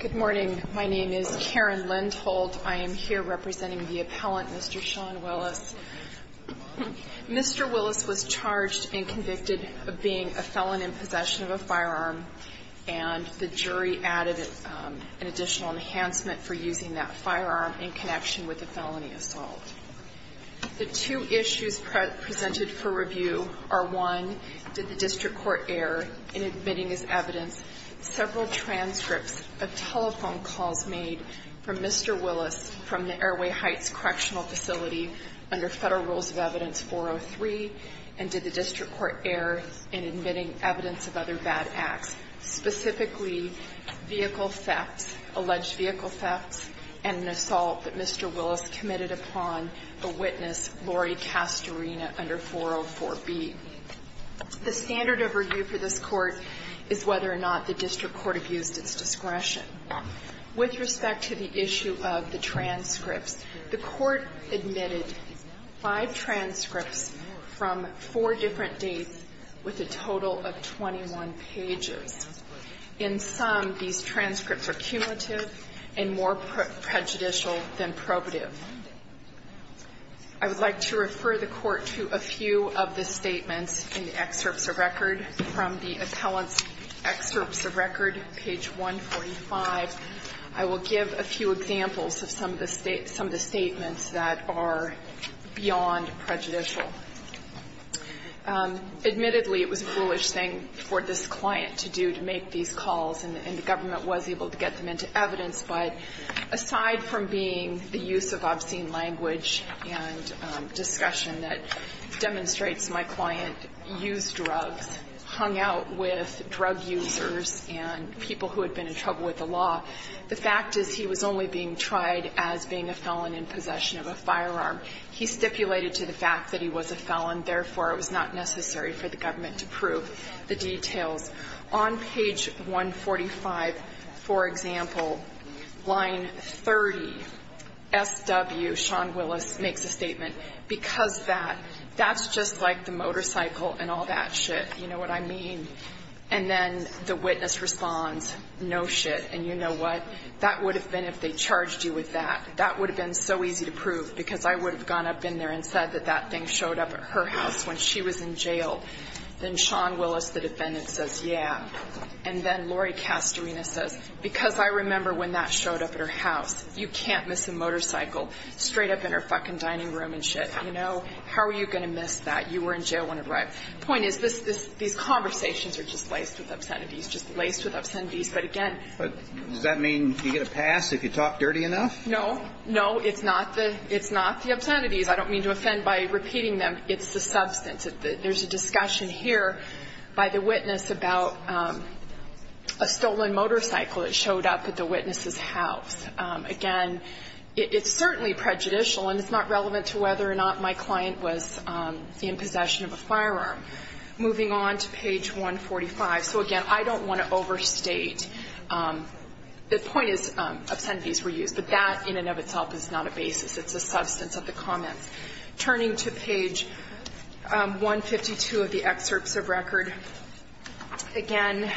Good morning. My name is Karen Lindholt. I am here representing the appellant, Mr. Sean Willis. Mr. Willis was charged and convicted of being a felon in possession of a firearm, and the jury added an additional enhancement for using that firearm in connection with a gun. The two issues presented for review are one, did the district court err in admitting as evidence several transcripts of telephone calls made from Mr. Willis from the Airway Heights Correctional Facility under Federal Rules of Evidence 403, and did the district court err in admitting evidence of other bad acts, specifically vehicle thefts, alleged vehicle thefts, and an assault that Mr. Willis had committed. Mr. Willis committed upon a witness, Lori Castorina, under 404B. The standard of review for this court is whether or not the district court abused its discretion. With respect to the issue of the transcripts, the court admitted five transcripts from four different dates with a total of 21 pages. In some, these transcripts are cumulative and more prejudicial than probative. I would like to refer the Court to a few of the statements in the excerpts of record from the appellant's excerpts of record, page 145. I will give a few examples of some of the statements that are beyond prejudicial. Admittedly, it was a foolish thing for this client to do to make these calls, and the government was able to get them into evidence. But aside from being the use of obscene language and discussion that demonstrates my client used drugs, hung out with drug users and people who had been in trouble with the law, the fact is he was only being tried as being a felon in possession of a firearm. He stipulated to the fact that he was a felon, therefore, it was not necessary for the government to prove the details. On page 145, for example, line 30, SW, Sean Willis, makes a statement, because that, that's just like the motorcycle and all that shit, you know what I mean? And then the witness responds, no shit, and you know what, that would have been if they charged you with that. That would have been so easy to prove, because I would have gone up in there and said that that thing showed up at her house when she was in jail. Then Sean Willis, the defendant, says, yeah. And then Lori Castorina says, because I remember when that showed up at her house, you can't miss a motorcycle straight up in her fucking dining room and shit, you know? How are you going to miss that? You were in jail when it arrived. The point is, this, this, these conversations are just laced with obscenities, just laced with obscenities. But, again. But does that mean you get a pass if you talk dirty enough? No. No, it's not the, it's not the obscenities. I don't mean to offend by repeating them. It's the substance. There's a discussion here by the witness about a stolen motorcycle that showed up at the witness's house. Again, it's certainly prejudicial, and it's not relevant to whether or not my client was in possession of a firearm. Moving on to page 145. So, again, I don't want to overstate. The point is, obscenities were used. But that, in and of itself, is not a basis. It's a substance of the comments. Turning to page 152 of the excerpts of record. Again,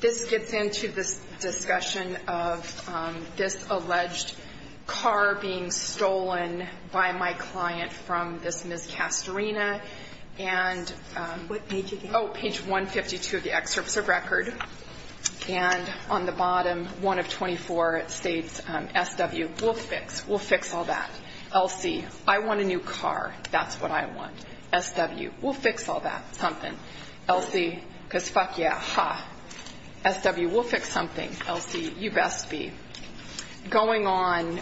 this gets into this discussion of this alleged car being stolen by my client from this Ms. Castorina. And, oh, page 152 of the excerpts of record. And on the bottom, 1 of 24, it states, SW, we'll fix. We'll fix all that. LC, I want a new car. That's what I want. SW, we'll fix all that. Something. LC, because fuck yeah, ha. SW, we'll fix something. LC, you best be. Going on,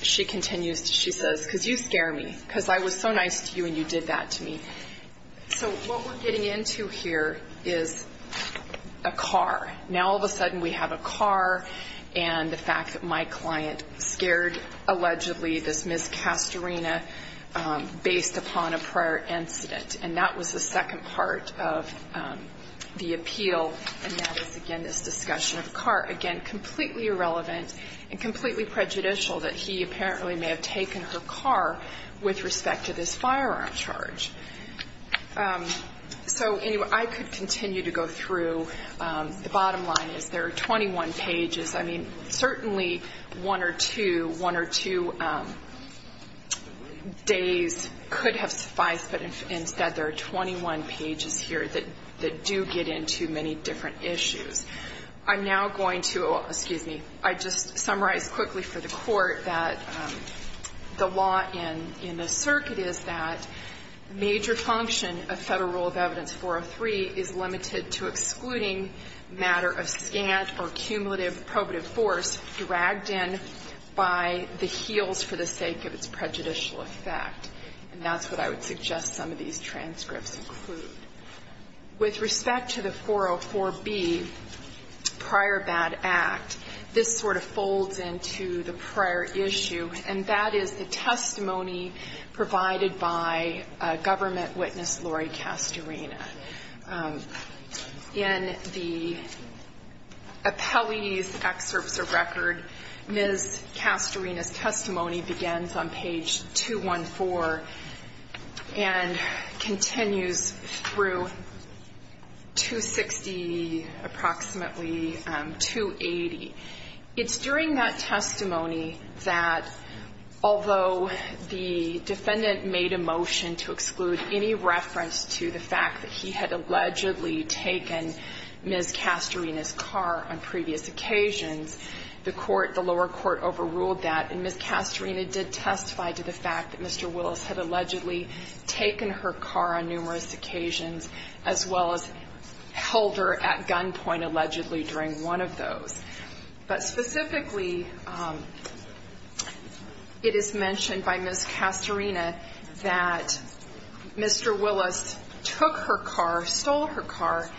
she continues, she says, because you scare me. Because I was so nice to you, and you did that to me. So, what we're getting into here is a car. Now, all of a sudden, we have a car, and the fact that my client scared, allegedly, this Ms. Castorina based upon a prior incident. And that was the second part of the appeal. And that is, again, this discussion of the car. Again, completely irrelevant and completely prejudicial that he apparently may have taken her car with respect to this firearm charge. So, anyway, I could continue to go through. The bottom line is there are 21 pages. I mean, certainly one or two, one or two days could have sufficed. But instead, there are 21 pages here that do get into many different issues. I'm now going to, excuse me, I just summarized quickly for the Court that the law in the circuit is that major function of Federal Rule of Evidence 403 is limited to excluding matter of scant or cumulative probative force dragged in by the heels for the sake of its prejudicial effect. And that's what I would suggest some of these transcripts include. With respect to the 404B prior bad act, this sort of folds into the prior issue, and that is the testimony provided by government witness Lori Castorina. In the appellee's excerpts of record, Ms. Castorina's testimony begins on page 214 and continues through 260, approximately 280. It's during that testimony that, although the defendant made a motion to exclude any reference to the fact that he had allegedly taken Ms. Castorina's car on previous occasions, the court, the lower court, overruled that. And Ms. Castorina did testify to the fact that Mr. Willis had allegedly taken her car on numerous occasions, as well as held her at gunpoint, allegedly, during one of those. But specifically, it is mentioned by Ms. Castorina that Mr. Willis took her car, stole her car,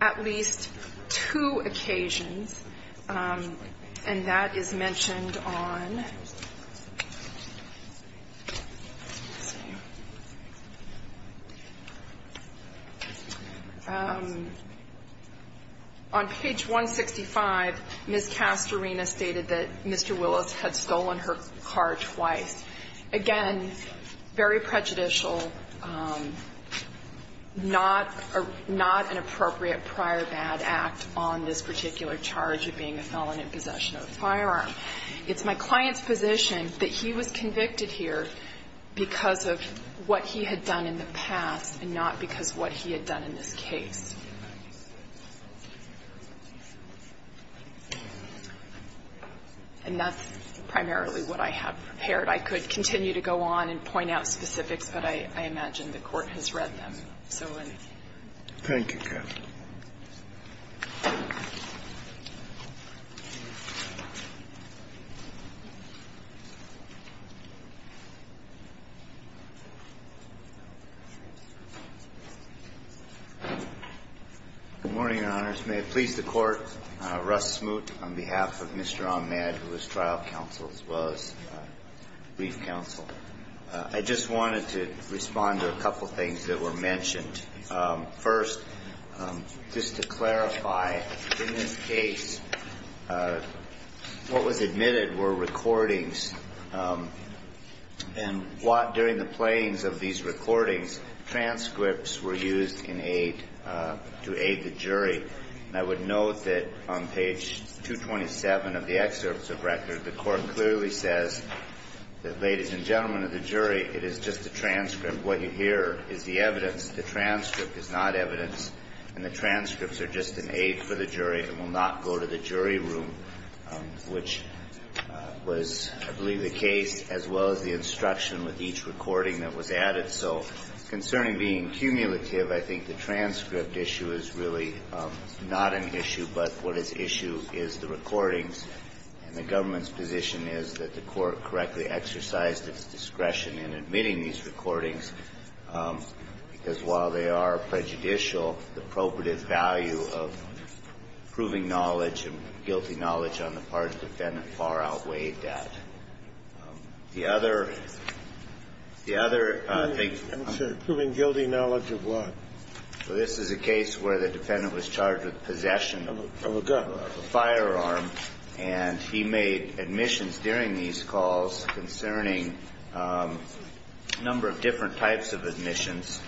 at least two occasions. And that is mentioned on page 165, Ms. Castorina stated that Mr. Willis had stolen her car twice. Again, very prejudicial, not an appropriate prior bad act on this particular charge of being a felon in possession of a firearm. It's my client's position that he was convicted here because of what he had done in the past and not because of what he had done in this case. And that's primarily what I have prepared. I could continue to go on and point out specifics, but I imagine the Court has read them. So I'm going to leave it there. Good morning, Your Honors. May it please the Court, Russ Smoot, on behalf of Mr. Ahmed, who is trial counsel, as well as brief counsel. I just wanted to respond to a couple things that were mentioned. First, just to clarify, in this case, what was admitted were recordings. And during the playings of these recordings, transcripts were used in aid, to aid the jury. And I would note that on page 227 of the excerpts of record, the Court clearly says that, ladies and gentlemen of the jury, it is just a transcript. What you hear is the evidence. The transcript is not evidence, and the transcripts are just an aid for the jury and will not go to the jury room, which was, I believe, the case, as well as the instruction with each recording that was added. So concerning being cumulative, I think the transcript issue is really not an issue. But what is issue is the recordings. And the government's position is that the Court correctly exercised its discretion in admitting these recordings, because while they are prejudicial, the appropriate value of proving knowledge and guilty knowledge on the part of the defendant far outweighed that. The other thing. I'm sorry. Proving guilty knowledge of what? Well, this is a case where the defendant was charged with possession of a gun, of a firearm. And he made admissions during these calls concerning a number of different types of admissions.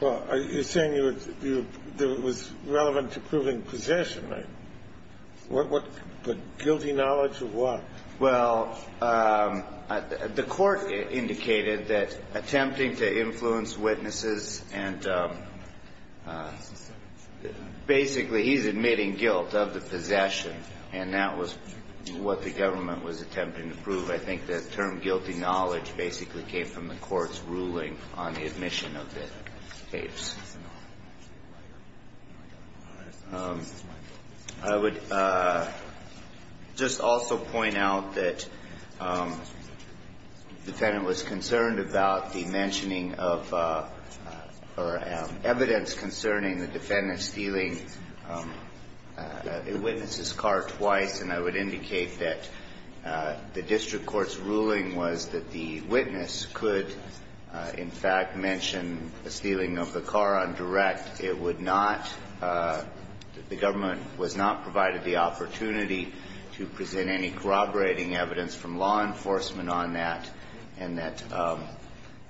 Well, you're saying it was relevant to proving possession, right? The guilty knowledge of what? Well, the Court indicated that attempting to influence witnesses and basically he's admitting guilt of the possession. And that was what the government was attempting to prove. I think the term guilty knowledge basically came from the Court's ruling on the admission of the tapes. I would just also point out that the defendant was concerned about the mentioning of or evidence concerning the defendant stealing a witness's car twice. And I would indicate that the district court's ruling was that the witness could, in fact, mention the stealing of the car on direct. It would not. The government was not provided the opportunity to present any corroborating evidence from law enforcement on that. And that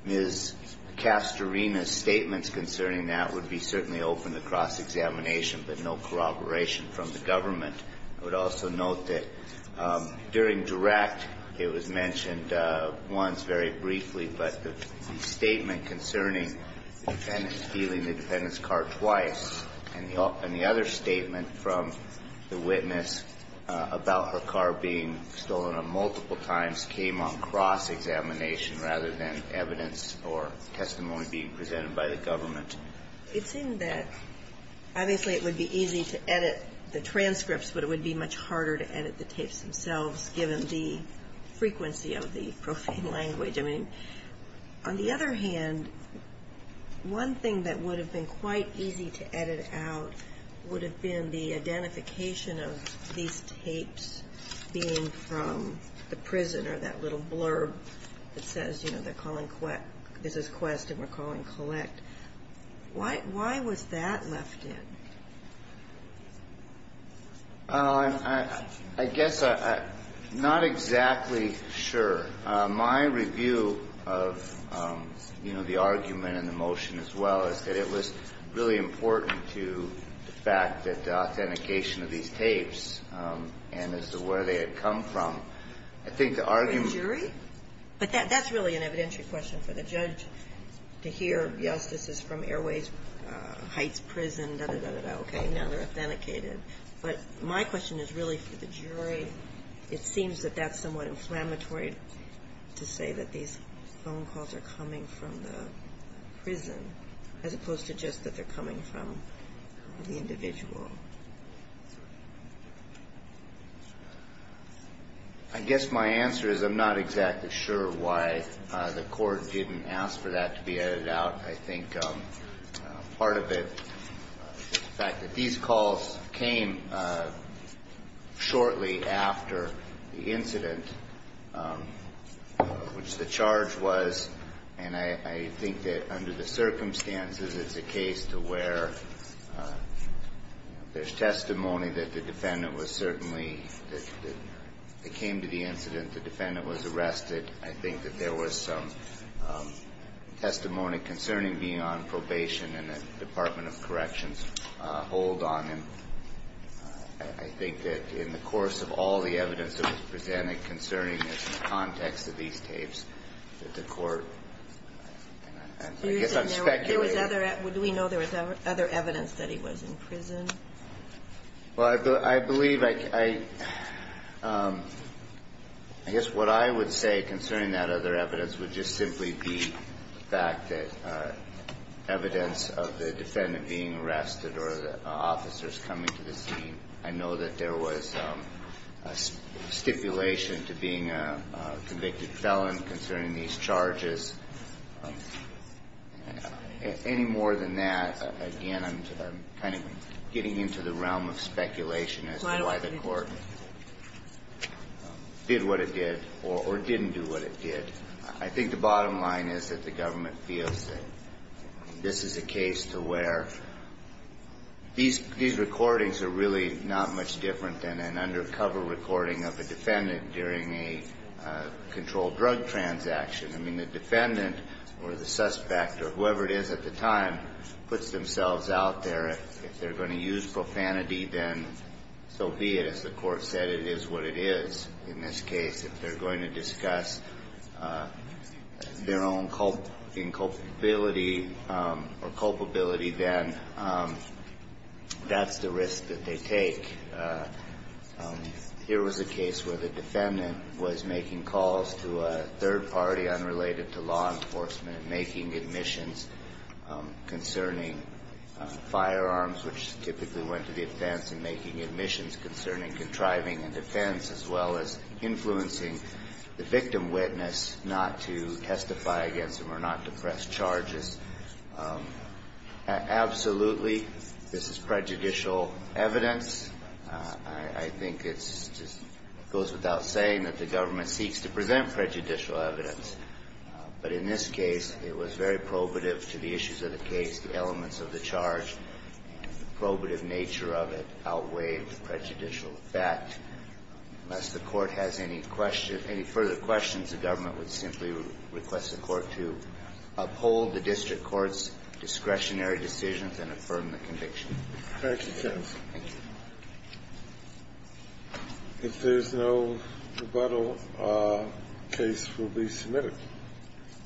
Ms. Castorina's statements concerning that would be certainly open to cross-examination, but no corroboration from the government. I would also note that during direct it was mentioned once very briefly, but the statement concerning the defendant stealing the defendant's car twice and the other statement from the witness about her car being stolen multiple times came on cross-examination rather than evidence or testimony being presented by the government. It seemed that obviously it would be easy to edit the transcripts, but it would be much harder to edit the tapes themselves given the frequency of the profane language. I mean, on the other hand, one thing that would have been quite easy to edit out would have been the identification of these tapes being from the prison or that little blurb that says, you know, they're calling, this is quest and we're calling collect. Why was that left in? I guess I'm not exactly sure. My review of, you know, the argument and the motion as well is that it was really important to the fact that the authentication of these tapes and as to where they had come from, I think the argument. The jury? But that's really an evidentiary question for the judge to hear. Yes, this is from Airways Heights Prison, da-da-da-da-da, okay, now they're authenticated. But my question is really for the jury. It seems that that's somewhat inflammatory to say that these phone calls are coming from the prison as opposed to just that they're coming from the individual. I guess my answer is I'm not exactly sure why the court didn't ask for that to be edited out. I think part of it is the fact that these calls came shortly after the incident, which the charge was, and I think that under the circumstances, it's a case to where there's testimony that the defendant was certainly, that they came to the incident, the defendant was arrested. I think that there was some testimony concerning being on probation and the Department of Corrections hold on him. I think that in the course of all the evidence that was presented concerning the context of these tapes, that the court, I guess I'm speculating. Do we know there was other evidence that he was in prison? Well, I believe, I guess what I would say concerning that other evidence would just simply be the fact that evidence of the defendant being arrested or the officers coming to the scene. I know that there was a stipulation to being a convicted felon concerning these charges. Any more than that, again, I'm kind of getting into the realm of speculation as to why the court did what it did or didn't do what it did. I think the bottom line is that the government feels that this is a case to where these recordings are really not much different than an undercover recording of a defendant during a controlled drug transaction. I mean, the defendant or the suspect or whoever it is at the time puts themselves out there. If they're going to use profanity, then so be it. As the court said, it is what it is in this case. If they're going to discuss their own culpability, then that's the risk that they take. Here was a case where the defendant was making calls to a third party unrelated to law enforcement, making admissions concerning firearms, which typically went to the offense, and making admissions concerning contriving a defense as well as influencing the victim witness not to testify against him or not to press charges. Absolutely, this is prejudicial evidence. I think it goes without saying that the government seeks to present prejudicial evidence. But in this case, it was very probative to the issues of the case, the elements of the charge, the probative nature of it outweighed the prejudicial effect. Unless the court has any further questions, the government would simply request the court to uphold the district court's discretionary decisions and affirm the conviction. Thank you, counsel. Thank you. If there's no rebuttal, the case will be submitted.